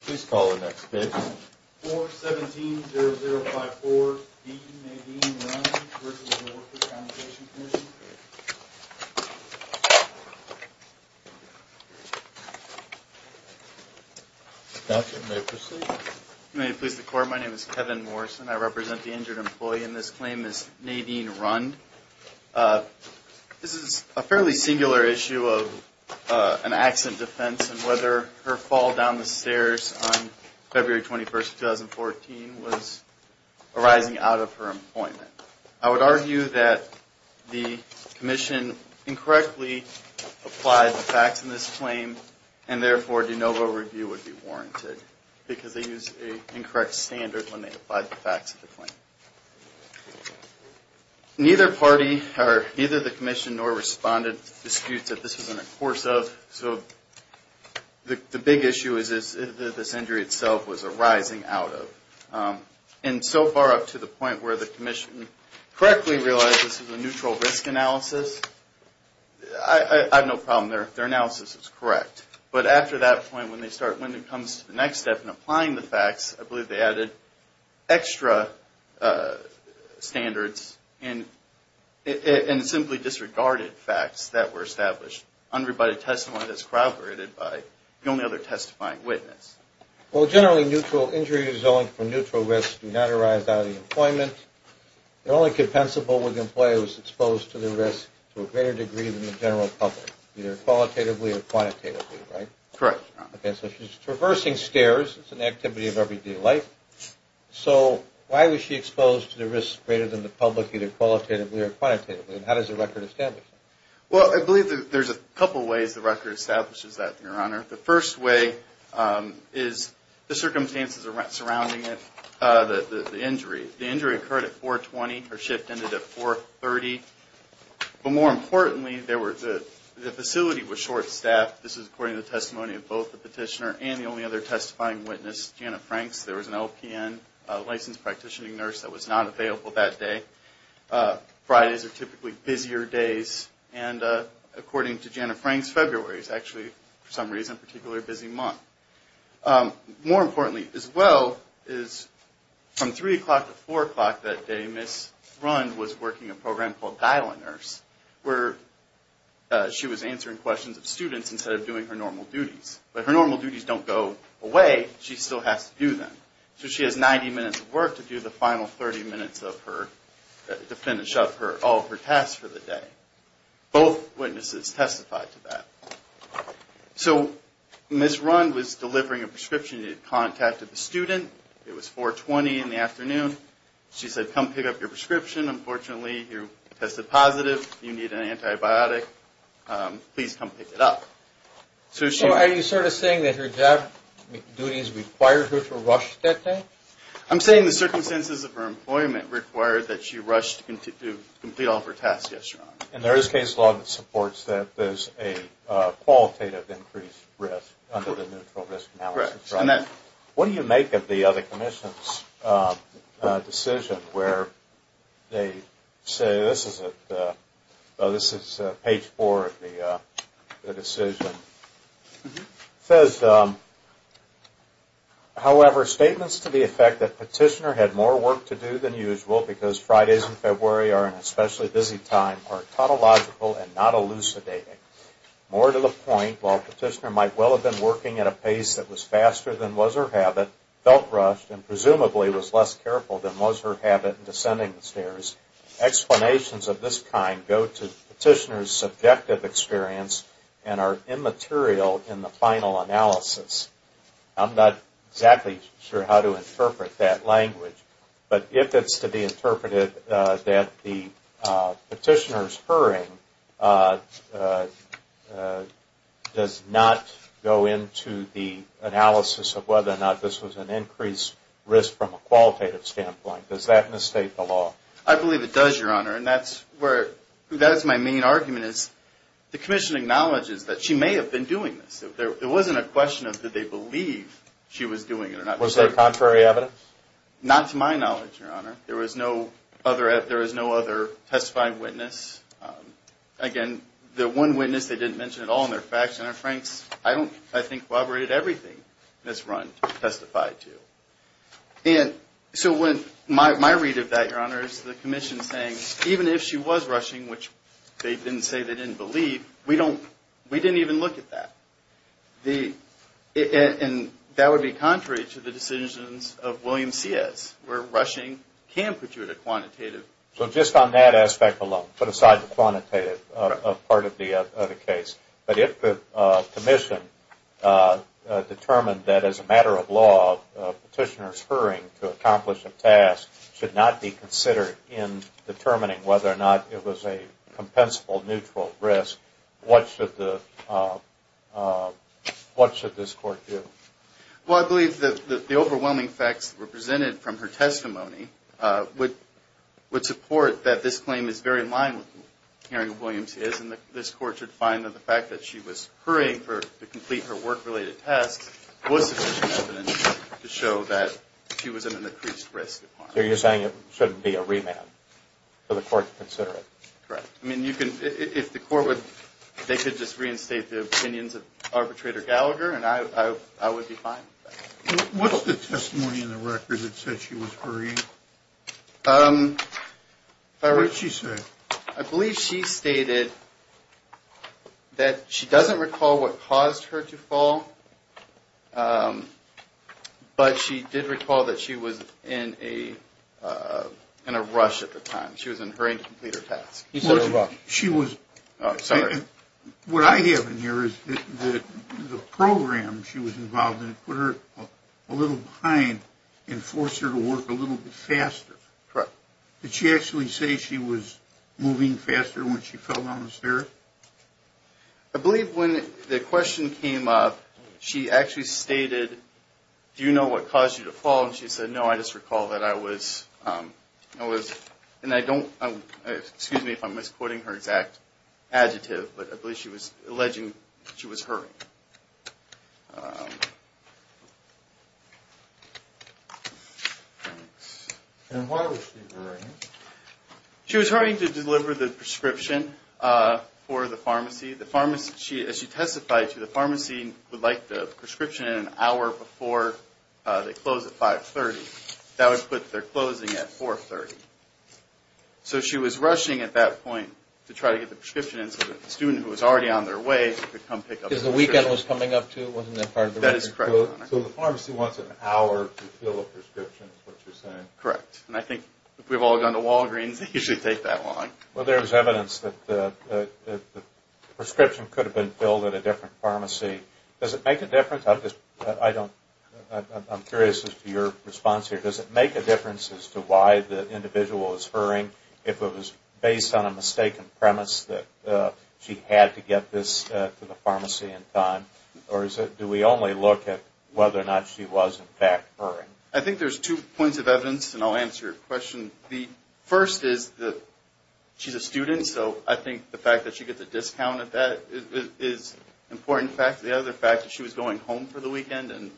Please call the next page. 4-17-0054, Dean Nadine Rund v. Workers' Compensation Comm'n. Counsel may proceed. May it please the court, my name is Kevin Morrison. I represent the injured employee and this claim is Nadine Rund. This is a fairly singular issue of an accident defense and whether her fall down the stairs on February 21, 2014, was arising out of her employment. I would argue that the commission incorrectly applied the facts in this claim and therefore de novo review would be warranted because they used an incorrect standard when they applied the facts of the claim. Neither party or neither the commission nor respondent disputes that this was in the course of. So the big issue is this injury itself was arising out of. And so far up to the point where the commission correctly realized this was a neutral risk analysis, I have no problem. Their analysis is correct. But after that point when they start, when it comes to the next step in applying the facts, I believe they added extra standards and simply disregarded facts that were established under a testimony that's corroborated by the only other testifying witness. Well generally neutral injuries owing to neutral risks do not arise out of employment. They're only compensable when the employee was exposed to the risk to a greater degree than the general public, either qualitatively or quantitatively, right? Correct. Okay. So she's traversing stairs. It's an activity of everyday life. So why was she exposed to the risk greater than the public either qualitatively or quantitatively? And how does the record establish that? Well, I believe there's a couple ways the record establishes that, Your Honor. The first way is the circumstances surrounding it, the injury. The injury occurred at 420. Her shift ended at 430. But more importantly, the facility was short-staffed. This is according to the testimony of both the petitioner and the only other testifying witness, Janet Franks. There was an LPN, a licensed practitioning nurse, that was not available that day. Fridays are typically busier days. And according to Janet Franks, February is actually for some reason a particularly busy month. More importantly as well is from 3 o'clock to 4 o'clock that day, Ms. Rund was working a program called Dial-A-Nurse where she was answering questions of students instead of doing her normal duties. But her normal duties don't go away. She still has to do them. So she has 90 minutes of work to do the final 30 minutes of her, to finish up all of her tasks for the day. Both witnesses testified to that. So Ms. Rund was delivering a prescription. She contacted the student. It was 420 in the afternoon. She said, come pick up your prescription. Unfortunately, you tested positive. You need an antibiotic. Please come pick it up. So are you sort of saying that her job duties required her to rush that day? I'm saying the circumstances of her employment required that she rush to complete all of her tasks yesterday. And there is case law that supports that there's a qualitative increased risk under the neutral risk analysis. Correct. What do you make of the other commission's decision where they say, this is page four of the decision. It says, however, statements to the effect that petitioner had more work to do than usual because Fridays in February are an especially busy time are tautological and not elucidating. More to the point, while petitioner might well have been working at a pace that was faster than was her habit, felt rushed, and presumably was less careful than was her habit in descending the stairs, explanations of this kind go to petitioner's subjective experience and are immaterial in the final analysis. I'm not exactly sure how to interpret that language. But if it's to be interpreted that the petitioner's hurrying does not go into the analysis of whether or not this was an increased risk from a qualitative standpoint, does that misstate the law? I believe it does, Your Honor. And that's my main argument is the commission acknowledges that she may have been doing this. It wasn't a question of did they believe she was doing it or not. Was there contrary evidence? Not to my knowledge, Your Honor. There was no other testifying witness. Again, the one witness they didn't mention at all in their facts and their franks, I think, corroborated everything Ms. Runt testified to. And so my read of that, Your Honor, is the commission saying even if she was rushing, which they didn't say they didn't believe, we can put you at a quantitative. So just on that aspect alone, put aside the quantitative part of the case. But if the commission determined that as a matter of law, petitioner's hurrying to accomplish a task should not be considered in determining whether or not it was a compensable neutral risk, what should this Court do? Well, I believe that the overwhelming facts represented from her testimony would support that this claim is very in line with the hearing that Williams is. And this Court should find that the fact that she was hurrying to complete her work-related tasks was sufficient evidence to show that she was at an increased risk. So you're saying it shouldn't be a remand for the Court to consider it? Correct. I mean, if the Court would, they could just reinstate the opinions of Arbitrator Gallagher and I would be fine with that. What's the testimony in the record that said she was hurrying? What did she say? I believe she stated that she doesn't recall what caused her to fall, but she did recall that she was in a rush at the time. She was in a hurry to complete her task. What I have in here is that the program she was involved in put her a little behind and forced her to work a little bit faster. Correct. Did she actually say she was moving faster when she fell down the stairs? I believe when the question came up, she actually stated, do you know what caused you to fall? And she said, no, I just recall that I was, and I don't, excuse me if I'm misquoting her exact adjective, but I believe she was alleging she was hurrying. And why was she hurrying? She was hurrying to deliver the prescription for the pharmacy. As she testified to, the pharmacy would like the prescription in an hour before they close at 5.30. That would put their closing at 4.30. So she was rushing at that point to try to get the prescription in so that the student who was already on their way could come pick up the prescription. Because the weekend was coming up too, wasn't that part of the reason? That is correct. So the pharmacy wants an hour to fill a prescription is what you're saying? Correct. And I think if we've all gone to Walgreens, they usually take that long. Well, there's evidence that the prescription could have been filled at a different pharmacy. Does it make a difference? I'm curious as to your response here. Does it make a difference as to why the individual is hurrying if it was based on a mistaken premise that she had to get this to the pharmacy in time? Or do we only look at whether or not she was, in fact, hurrying? I think there's two points of evidence, and I'll answer your question. The first is that she's a student, so I think the fact that she gets a discount at that is an important fact. The other fact is she was going home for the weekend, and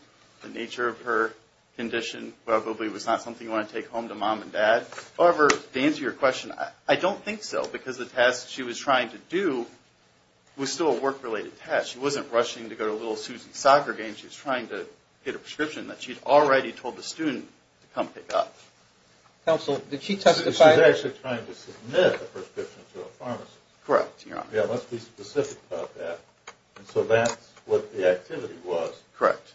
the nature of her condition probably was not something you want to take home to Mom and Dad. However, to answer your question, I don't think so, because the task she was trying to do was still a work-related task. She wasn't rushing to go to a little Suzie soccer game. She was trying to get a prescription that she had already told the student to come pick up. Counsel, did she testify? She was actually trying to submit a prescription to a pharmacist. Correct, Your Honor. Yeah, let's be specific about that. And so that's what the activity was. Correct.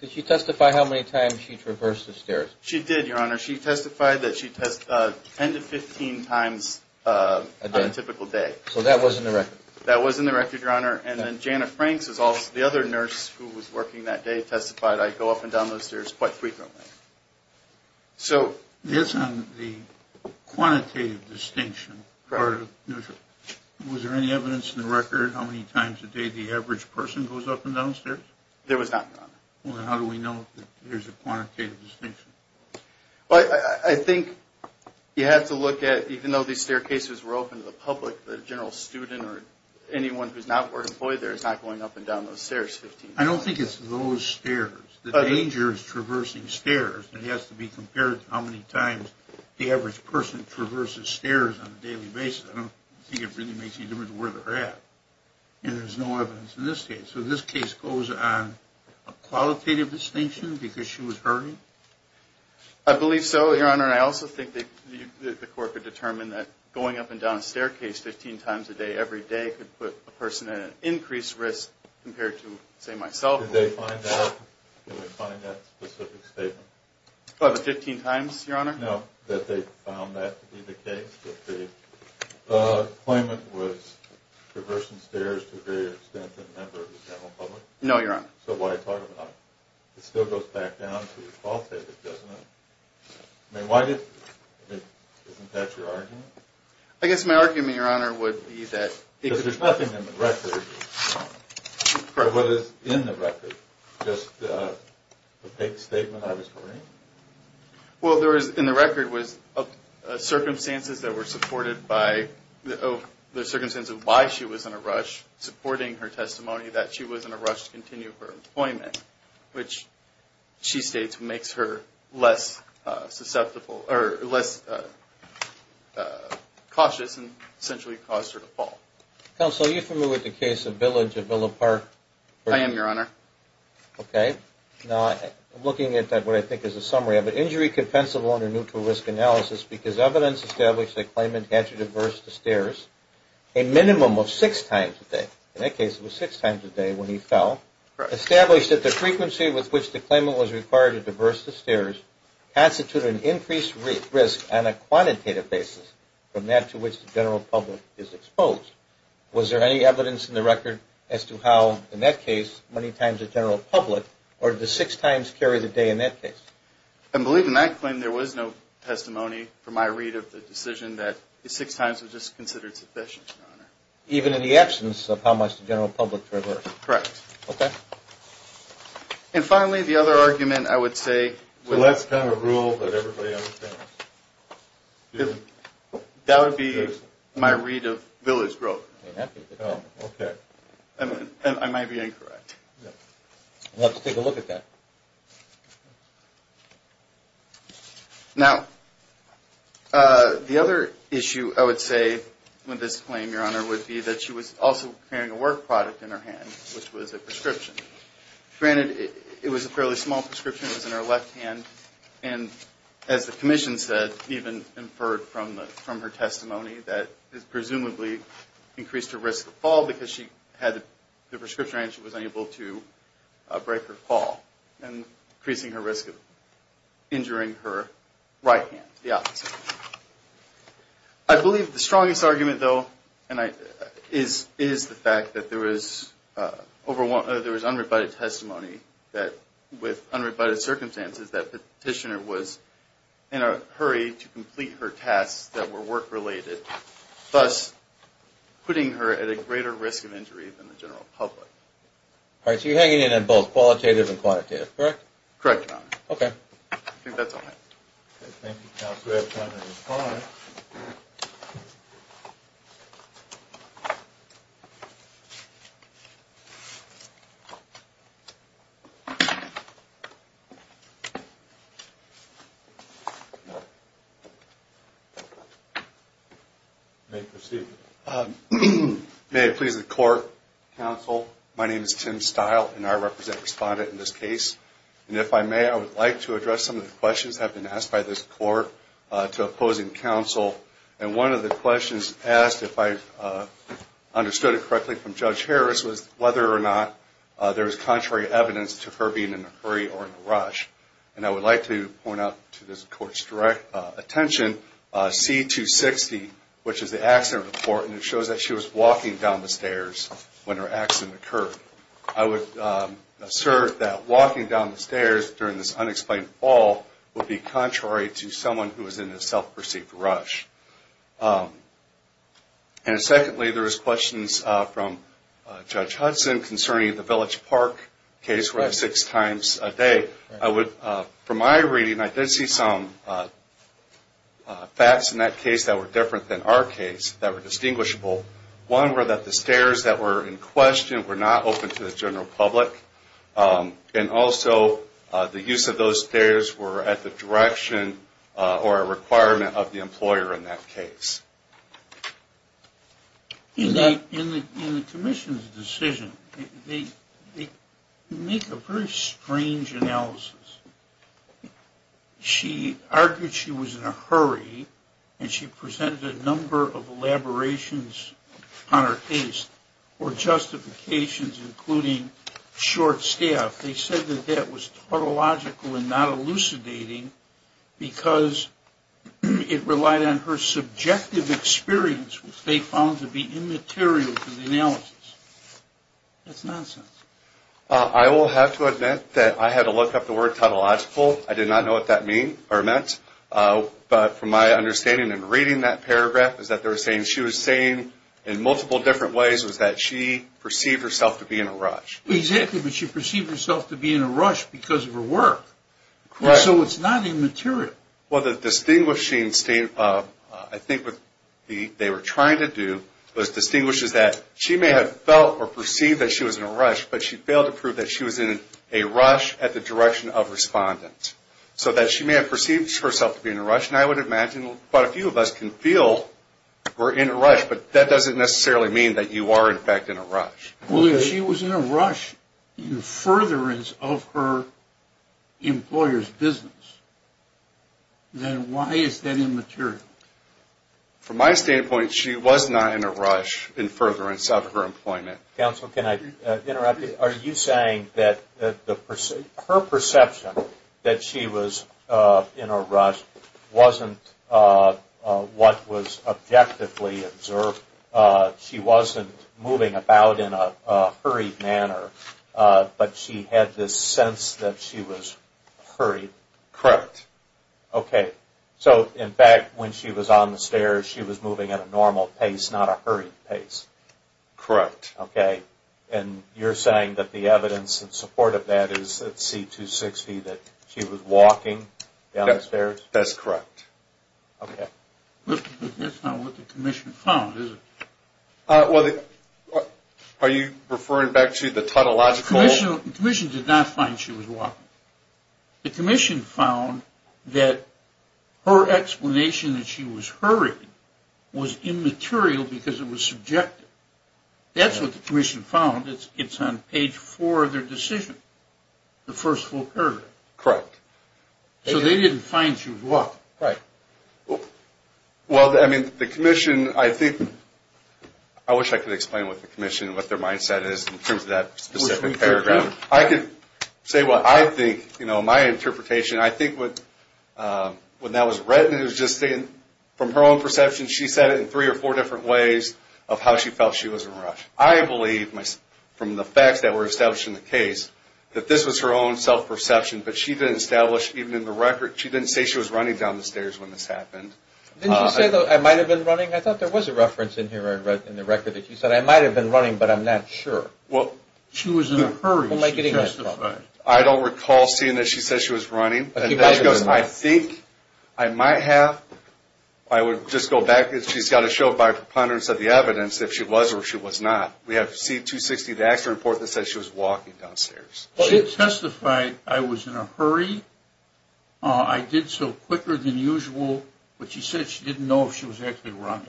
Did she testify how many times she traversed the stairs? She did, Your Honor. She testified that she tests 10 to 15 times on a typical day. So that was in the record? That was in the record, Your Honor. And then Janet Franks, the other nurse who was working that day, testified, I go up and down those stairs quite frequently. So that's on the quantitative distinction part of neutral. Was there any evidence in the record how many times a day the average person goes up and down the stairs? There was not, Your Honor. Well, then how do we know that there's a quantitative distinction? Well, I think you have to look at, even though these staircases were open to the public, the general student or anyone who's not employed there is not going up and down those stairs 15 times. I don't think it's those stairs. The danger is traversing stairs. It has to be compared to how many times the average person traverses stairs on a daily basis. I don't think it really makes any difference where they're at. And there's no evidence in this case. So this case goes on a qualitative distinction because she was hurrying? I believe so, Your Honor. Your Honor, I also think that the court could determine that going up and down a staircase 15 times a day every day could put a person at an increased risk compared to, say, myself. Did they find that specific statement? Oh, the 15 times, Your Honor? No, that they found that to be the case, that the claimant was traversing stairs to a greater extent than a member of the general public? No, Your Honor. So what I'm talking about, it still goes back down to the qualitative, doesn't it? I mean, isn't that your argument? I guess my argument, Your Honor, would be that it could be. Because there's nothing in the record. Correct. What is in the record? Just the fake statement I was hearing? Well, there is in the record was circumstances that were supported by the circumstances of why she was in a rush, supporting her testimony that she was in a rush to continue her employment, which she states makes her less susceptible or less cautious and essentially caused her to fall. Counsel, are you familiar with the case of Village of Villa Park? I am, Your Honor. Okay. Now, looking at what I think is a summary, I have an injury compensable under neutral risk analysis because evidence established that the claimant had to traverse the stairs a minimum of six times a day. In that case, it was six times a day when he fell. Established that the frequency with which the claimant was required to traverse the stairs constituted an increased risk on a quantitative basis from that to which the general public is exposed. Was there any evidence in the record as to how, in that case, many times the general public, or did the six times carry the day in that case? I believe in that claim there was no testimony from my read of the decision that the six times was just considered sufficient, Your Honor. Even in the absence of how much the general public traversed? Correct. Okay. And finally, the other argument I would say… Well, that's kind of a rule that everybody understands. That would be my read of Village Grove. Okay. And I might be incorrect. We'll have to take a look at that. Now, the other issue I would say with this claim, Your Honor, would be that she was also carrying a work product in her hand, which was a prescription. Granted, it was a fairly small prescription. It was in her left hand. And as the Commission said, even inferred from her testimony, that it presumably increased her risk of fall because she had the prescription and she was unable to break her fall, and increasing her risk of injuring her right hand, the opposite. I believe the strongest argument, though, is the fact that there was unrebutted testimony that with unrebutted circumstances that the petitioner was in a hurry to complete her tasks that were work-related, thus putting her at a greater risk of injury than the general public. All right. So you're hanging in on both qualitative and quantitative, correct? Correct, Your Honor. Okay. I think that's all I have. Okay. Thank you, Counselor. We have time to respond. You may proceed. May it please the Court, Counsel, my name is Tim Stile, and I represent the respondent in this case. And if I may, I would like to address some of the questions that have been asked by this Court to opposing counsel. And one of the questions asked, if I understood it correctly from Judge Harris, was whether or not there was contrary evidence to her being in a hurry or in a rush. And I would like to point out to this Court's direct attention, C-260, which is the accident report, and it shows that she was walking down the stairs when her accident occurred. I would assert that walking down the stairs during this unexplained fall would be contrary to someone who was in a self-perceived rush. And secondly, there was questions from Judge Hudson concerning the Village Park case where it was six times a day. From my reading, I did see some facts in that case that were different than our case, that were distinguishable. One were that the stairs that were in question were not open to the general public. And also, the use of those stairs were at the direction or a requirement of the employer in that case. In the Commission's decision, they make a very strange analysis. She argued she was in a hurry, and she presented a number of elaborations on her case or justifications, including short staff. They said that that was tautological and not elucidating because it relied on her subjective experience, which they found to be immaterial to the analysis. That's nonsense. I will have to admit that I had to look up the word tautological. I did not know what that meant. But from my understanding in reading that paragraph is that they were saying she was saying in multiple different ways that she perceived herself to be in a rush. Exactly, but she perceived herself to be in a rush because of her work. So it's not immaterial. Well, the distinguishing statement, I think what they were trying to do was distinguish that she may have felt or perceived that she was in a rush, but she failed to prove that she was in a rush at the direction of respondent. So that she may have perceived herself to be in a rush, and I would imagine quite a few of us can feel we're in a rush, but that doesn't necessarily mean that you are, in fact, in a rush. Well, if she was in a rush in furtherance of her employer's business, then why is that immaterial? From my standpoint, she was not in a rush in furtherance of her employment. Counsel, can I interrupt you? Are you saying that her perception that she was in a rush wasn't what was objectively observed? She wasn't moving about in a hurried manner, but she had this sense that she was hurried? Correct. Okay. So, in fact, when she was on the stairs, she was moving at a normal pace, not a hurried pace? Correct. Okay. And you're saying that the evidence in support of that is that C-260, that she was walking down the stairs? That's correct. But that's not what the commission found, is it? Are you referring back to the tautological? The commission did not find she was walking. The commission found that her explanation that she was hurried was immaterial because it was subjective. That's what the commission found. It's on page four of their decision, the first full paragraph. Correct. So they didn't find she was walking? Well, I mean, the commission, I think, I wish I could explain with the commission what their mindset is in terms of that specific paragraph. I could say what I think, you know, my interpretation, I think what that was read, it was just from her own perception, she said it in three or four different ways of how she felt she was in a rush. I believe, from the facts that were established in the case, that this was her own self-perception. But she didn't establish, even in the record, she didn't say she was running down the stairs when this happened. Didn't you say, though, I might have been running? I thought there was a reference in here in the record that you said, I might have been running, but I'm not sure. Well, she was in a hurry. She justified. I don't recall seeing that she said she was running. I think I might have, I would just go back, she's got to show by preponderance of the evidence if she was or if she was not. We have C-260, the accident report that says she was walking downstairs. She testified, I was in a hurry, I did so quicker than usual, but she said she didn't know if she was actually running.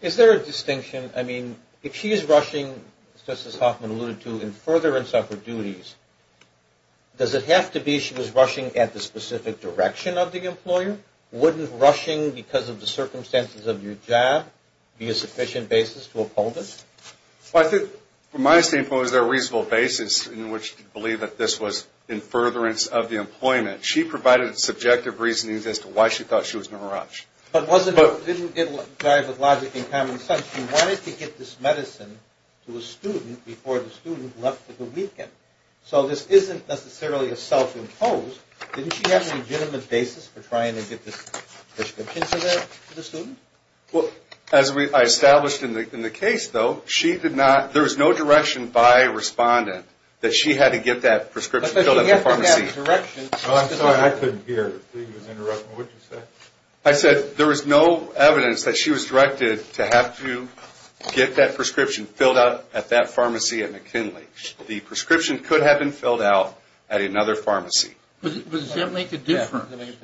Is there a distinction, I mean, if she is rushing, just as Hoffman alluded to, in furtherance of her duties, does it have to be she was rushing at the specific direction of the employer? Wouldn't rushing because of the circumstances of your job be a sufficient basis to uphold it? Well, I think, from my standpoint, was there a reasonable basis in which to believe that this was in furtherance of the employment? She provided subjective reasoning as to why she thought she was in a rush. But it didn't drive with logic and common sense. She wanted to get this medicine to a student before the student left for the weekend. So this isn't necessarily a self-imposed, didn't she have a legitimate basis for trying to get this prescription to the student? Well, as I established in the case, though, she did not, there was no direction by a respondent that she had to get that prescription filled at the pharmacy. I'm sorry, I couldn't hear. Please interrupt me. What did you say? I said there was no evidence that she was directed to have to get that prescription filled out at that pharmacy at McKinley. The prescription could have been filled out at another pharmacy. But does that make a difference?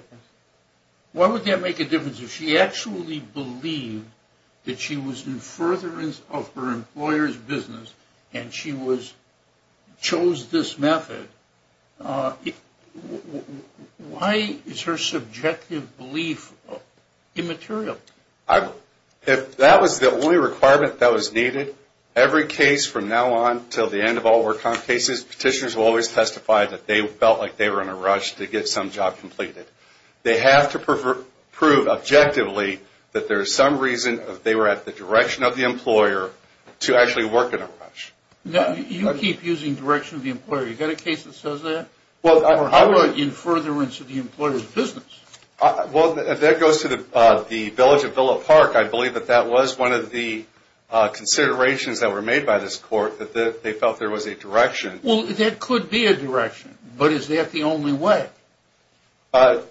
Why would that make a difference if she actually believed that she was in furtherance of her employer's business and she chose this method? Why is her subjective belief immaterial? If that was the only requirement that was needed, every case from now on until the end of all work comp cases, petitioners will always testify that they felt like they were in a rush to get some job completed. They have to prove objectively that there is some reason that they were at the direction of the employer to actually work in a rush. You keep using direction of the employer. You got a case that says that? Or how about in furtherance of the employer's business? Well, if that goes to the village of Villa Park, I believe that that was one of the considerations that were made by this court, that they felt there was a direction. Well, that could be a direction. But is that the only way? I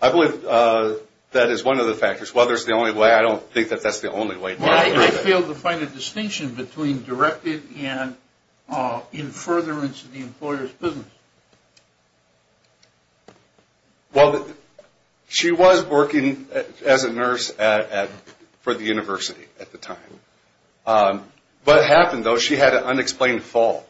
believe that is one of the factors. Whether it's the only way, I don't think that that's the only way. I fail to find a distinction between directed and in furtherance of the employer's business. Well, she was working as a nurse for the university at the time. What happened, though, she had an unexplained fall.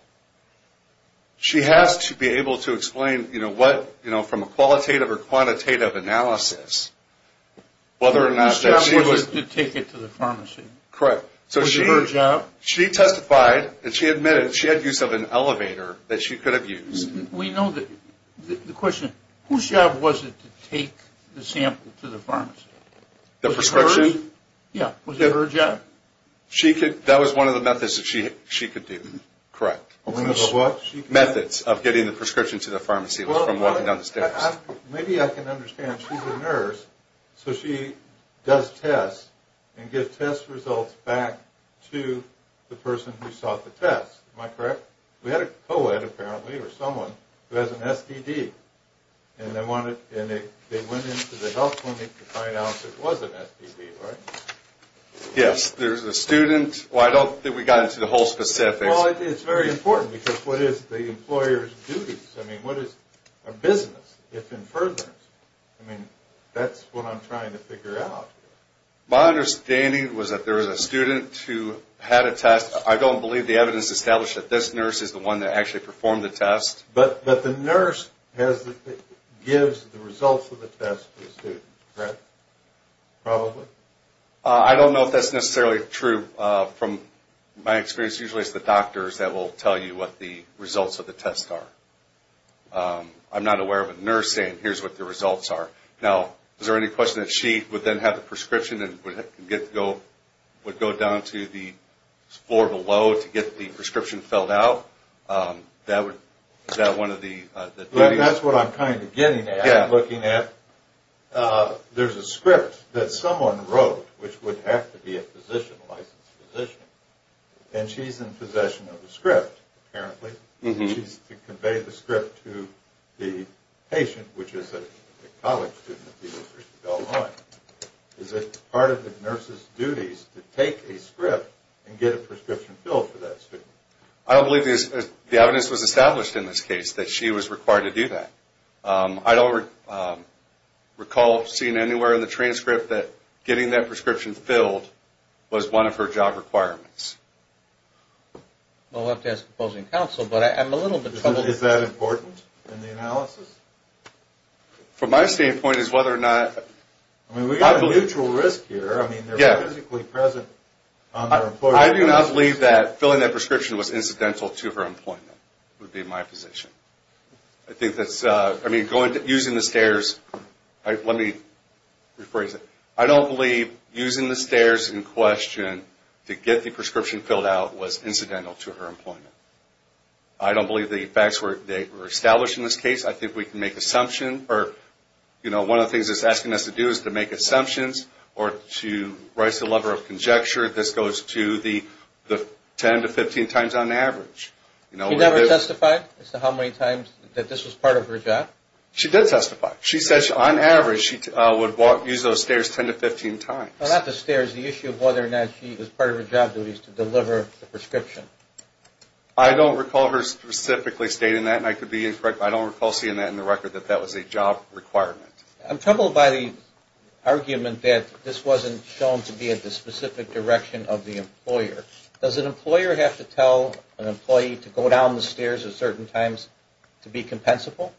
She has to be able to explain from a qualitative or quantitative analysis whether or not that she was... Her job was to take it to the pharmacy. Correct. So she testified and she admitted that she had use of an elevator that she could have used. We know that. The question, whose job was it to take the sample to the pharmacy? The prescription? Yeah. Was it her job? That was one of the methods that she could do. Correct. One of the methods of getting the prescription to the pharmacy was from walking down the stairs. Maybe I can understand. She's a nurse, so she does tests and gives test results back to the person who sought the test. Am I correct? We had a co-ed, apparently, or someone who has an STD, and they went into the health clinic to find out if it was an STD, right? Yes. There's a student. I don't think we got into the whole specifics. Well, it's very important, because what is the employer's duties? I mean, what is a business, if in furtherance? I mean, that's what I'm trying to figure out. My understanding was that there was a student who had a test. I don't believe the evidence established that this nurse is the one that actually performed the test. But the nurse gives the results of the test to the student, correct? Probably? I don't know if that's necessarily true. From my experience, usually it's the doctors that will tell you what the results of the test are. I'm not aware of a nurse saying, here's what the results are. Now, is there any question that she would then have the prescription and would go down to the floor below to get the prescription filled out? Is that one of the duties? That's what I'm kind of getting at. I'm looking at, there's a script that someone wrote, which would have to be a physician, a licensed physician. And she's in possession of the script, apparently. She's to convey the script to the patient, which is a college student. Is it part of the nurse's duties to take a script and get a prescription filled for that student? I don't believe the evidence was established in this case that she was required to do that. I don't recall seeing anywhere in the transcript that getting that prescription filled was one of her job requirements. Well, we'll have to ask the opposing counsel, but I'm a little bit troubled. Is that important in the analysis? From my standpoint, it's whether or not... I do not believe that filling that prescription was incidental to her employment would be my position. I think that's, I mean, using the stairs, let me rephrase it. I don't believe using the stairs in question to get the prescription filled out was incidental to her employment. I don't believe the facts were established in this case. I think we can make assumptions. One of the things it's asking us to do is to make assumptions or to raise the level of conjecture. This goes to the 10 to 15 times on average. She never testified as to how many times that this was part of her job? She did testify. She said on average she would use those stairs 10 to 15 times. Well, not the stairs. The issue of whether or not she was part of her job duties to deliver the prescription. I don't recall her specifically stating that, and I could be incorrect, but I don't recall seeing that in the record that that was a job requirement. I'm troubled by the argument that this wasn't shown to be at the specific direction of the employer. Does an employer have to tell an employee to go down the stairs at certain times to be compensable?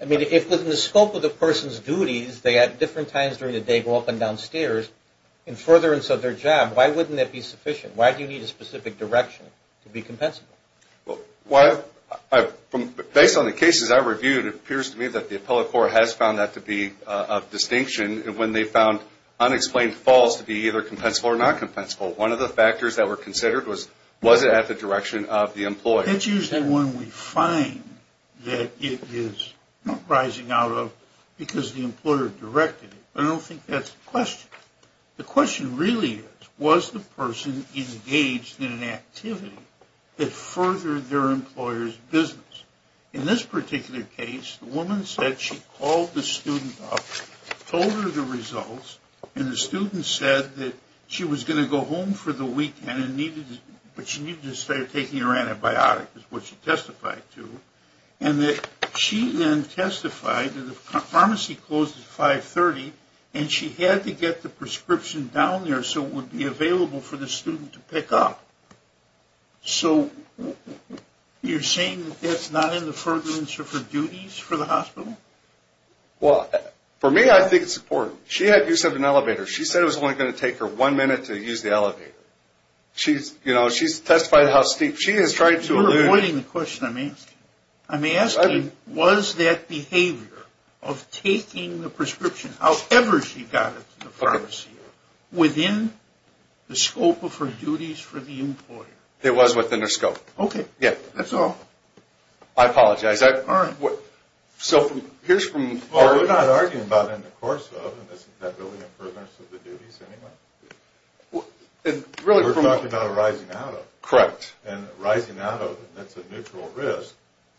I mean, if within the scope of the person's duties, they at different times during the day go up and down stairs in furtherance of their job, why wouldn't that be sufficient? Why do you need a specific direction to be compensable? Based on the cases I reviewed, it appears to me that the appellate court has found that to be of distinction, when they found unexplained falls to be either compensable or not compensable. One of the factors that were considered was, was it at the direction of the employer? It's usually when we find that it is rising out of because the employer directed it, but I don't think that's the question. The question really is, was the person engaged in an activity that furthered their employer's business? In this particular case, the woman said she called the student up, told her the results, and the student said that she was going to go home for the weekend, but she needed to start taking her antibiotic, is what she testified to, and that she then testified that the pharmacy closes at 530, and she had to get the prescription down there so it would be available for the student to pick up. So you're saying that that's not in the furtherance of her duties for the hospital? Well, for me, I think it's important. She had use of an elevator. She said it was only going to take her one minute to use the elevator. You're avoiding the question I'm asking. I'm asking, was that behavior of taking the prescription, however she got it to the pharmacy, within the scope of her duties for the employer? It was within her scope. Okay, that's all. We're not arguing about in the course of, is that really in furtherance of the duties anyway? We're talking about arising out of, and arising out of, that's a neutral risk,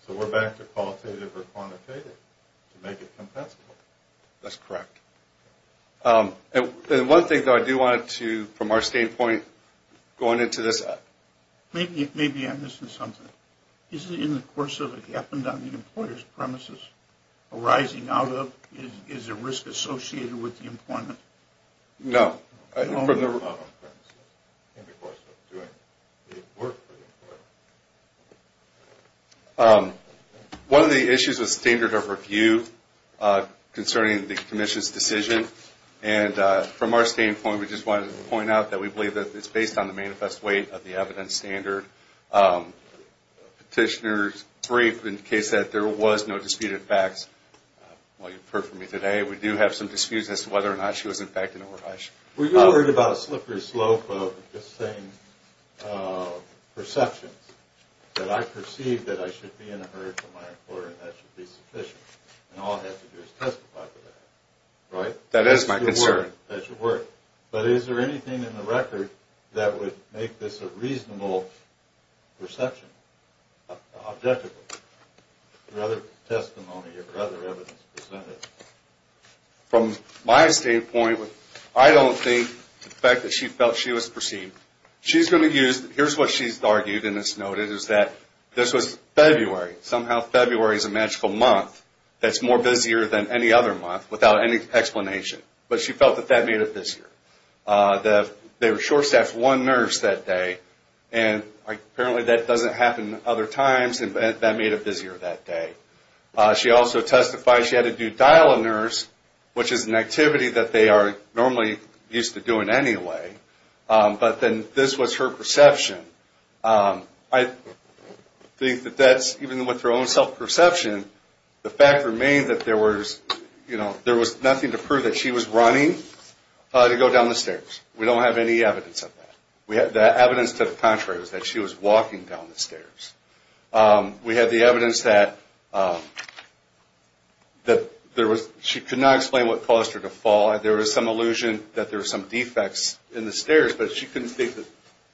so we're back to qualitative or quantitative to make it compensable. That's correct. And one thing, though, I do want to, from our standpoint, going into this. Maybe I'm missing something. Is it in the course of it happened on the employer's premises, arising out of, is a risk associated with the employment? No. In the course of doing the work for the employer. One of the issues was standard of review concerning the commission's decision. And from our standpoint, we just wanted to point out that we believe that it's based on the manifest weight of the evidence standard. Petitioner's brief indicates that there was no disputed facts. While you've heard from me today, we do have some disputes as to whether or not she was infected or not. Were you worried about a slippery slope of just saying perceptions, that I perceive that I should be in a hurry for my employer and that should be sufficient? And all I have to do is testify to that, right? That is my concern. But is there anything in the record that would make this a reasonable perception? Objectively? From my standpoint, I don't think the fact that she felt she was perceived. Here's what she's argued, and it's noted, is that this was February. Somehow February is a magical month that's more busier than any other month without any explanation. But she felt that that made it busier. They were short-staffed one nurse that day, and apparently that doesn't happen other times, and that made it busier that day. She also testified she had to do dial-a-nurse, which is an activity that they are normally used to doing anyway. But then this was her perception. I think that that's, even with her own self-perception, the fact remained that there was nothing to prove that she was running to go down the stairs. We don't have any evidence of that. The evidence to the contrary is that she was walking down the stairs. We have the evidence that she could not explain what caused her to fall. There was some illusion that there were some defects in the stairs, but she couldn't think that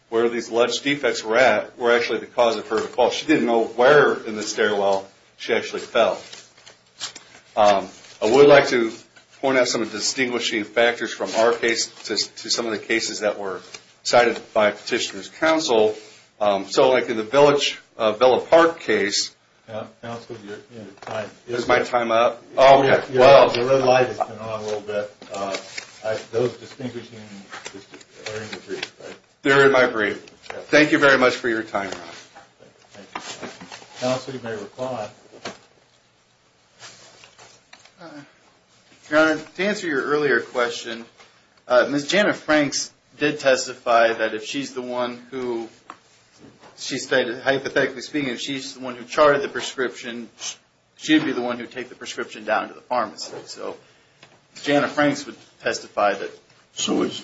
where these alleged defects were at were actually the cause of her fall. She didn't know where in the stairwell she actually fell. I would like to point out some distinguishing factors from our case to some of the cases that were cited by Petitioner's Counsel. So like in the Villa Park case... Is my time up? They're in my brief. Thank you very much for your time. Counsel, you may reply. Your Honor, to answer your earlier question, Ms. Jana Franks did testify that if she's the one who... Hypothetically speaking, if she's the one who charted the prescription, she'd be the one who'd take the prescription down to the pharmacy. So Jana Franks would testify that... So is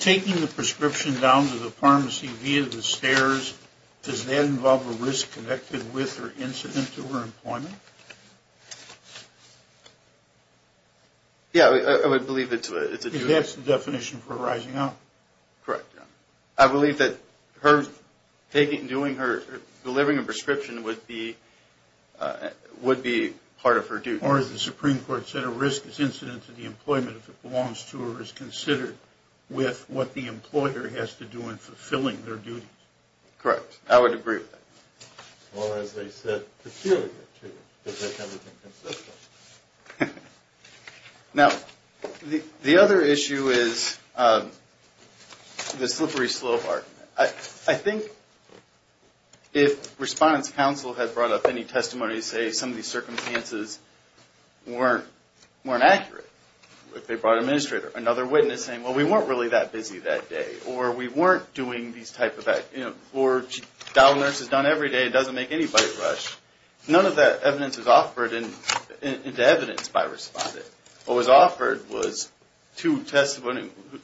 taking the prescription down to the pharmacy via the stairs... Does that involve a risk connected with or incident to her employment? Yeah, I would believe it's a due... That's the definition for a rising up. Correct, Your Honor. Or as the Supreme Court said, a risk is incident to the employment if it belongs to or is considered with what the employer has to do in fulfilling their duties. Correct, I would agree with that. Or as they said, peculiar to if they've ever been consistent. Now, the other issue is the slippery slope part. I think if Respondent's Counsel had brought up any testimony to say some of these circumstances weren't accurate... If they brought an administrator, another witness saying, well, we weren't really that busy that day, or we weren't doing these type of... Dial a nurse is done every day and doesn't make anybody rush. None of that evidence is offered into evidence by Respondent. What was offered was two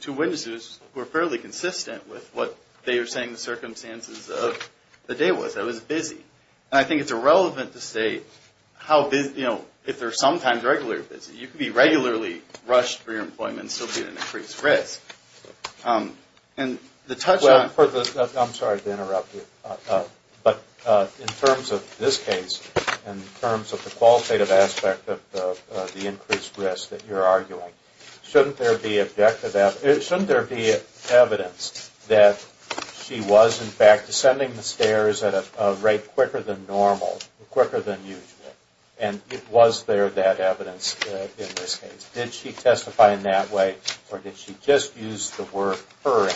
witnesses who were fairly consistent with what they were saying the circumstances of the day was. That was busy. And I think it's irrelevant to say if they're sometimes regularly busy. You can be regularly rushed for your employment and still be at an increased risk. I'm sorry to interrupt you. But in terms of this case, in terms of the qualitative aspect of the increased risk that you're arguing, shouldn't there be objective... It's quicker than normal, quicker than usual. And was there that evidence in this case? Did she testify in that way, or did she just use the word hurry?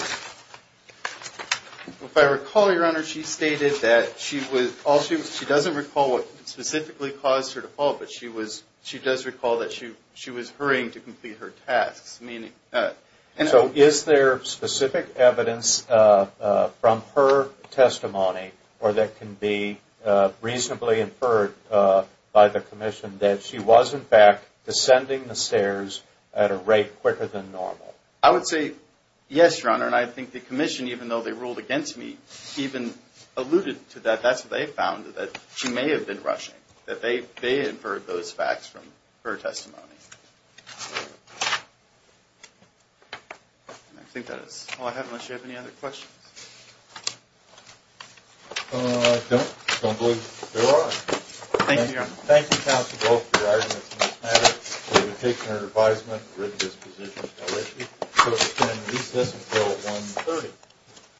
If I recall, Your Honor, she stated that she was... She doesn't recall what specifically caused her to fall, but she does recall that she was hurrying to complete her tasks. So is there specific evidence from her testimony or that can be reasonably inferred by the Commission that she was in fact descending the stairs at a rate quicker than normal? I would say yes, Your Honor, and I think the Commission, even though they ruled against me, even alluded to that. That's what they found, that she may have been rushing, that they inferred those facts from her testimony. And I think that is all I have, unless you have any other questions. I don't. I don't believe there are. Thank you, Your Honor.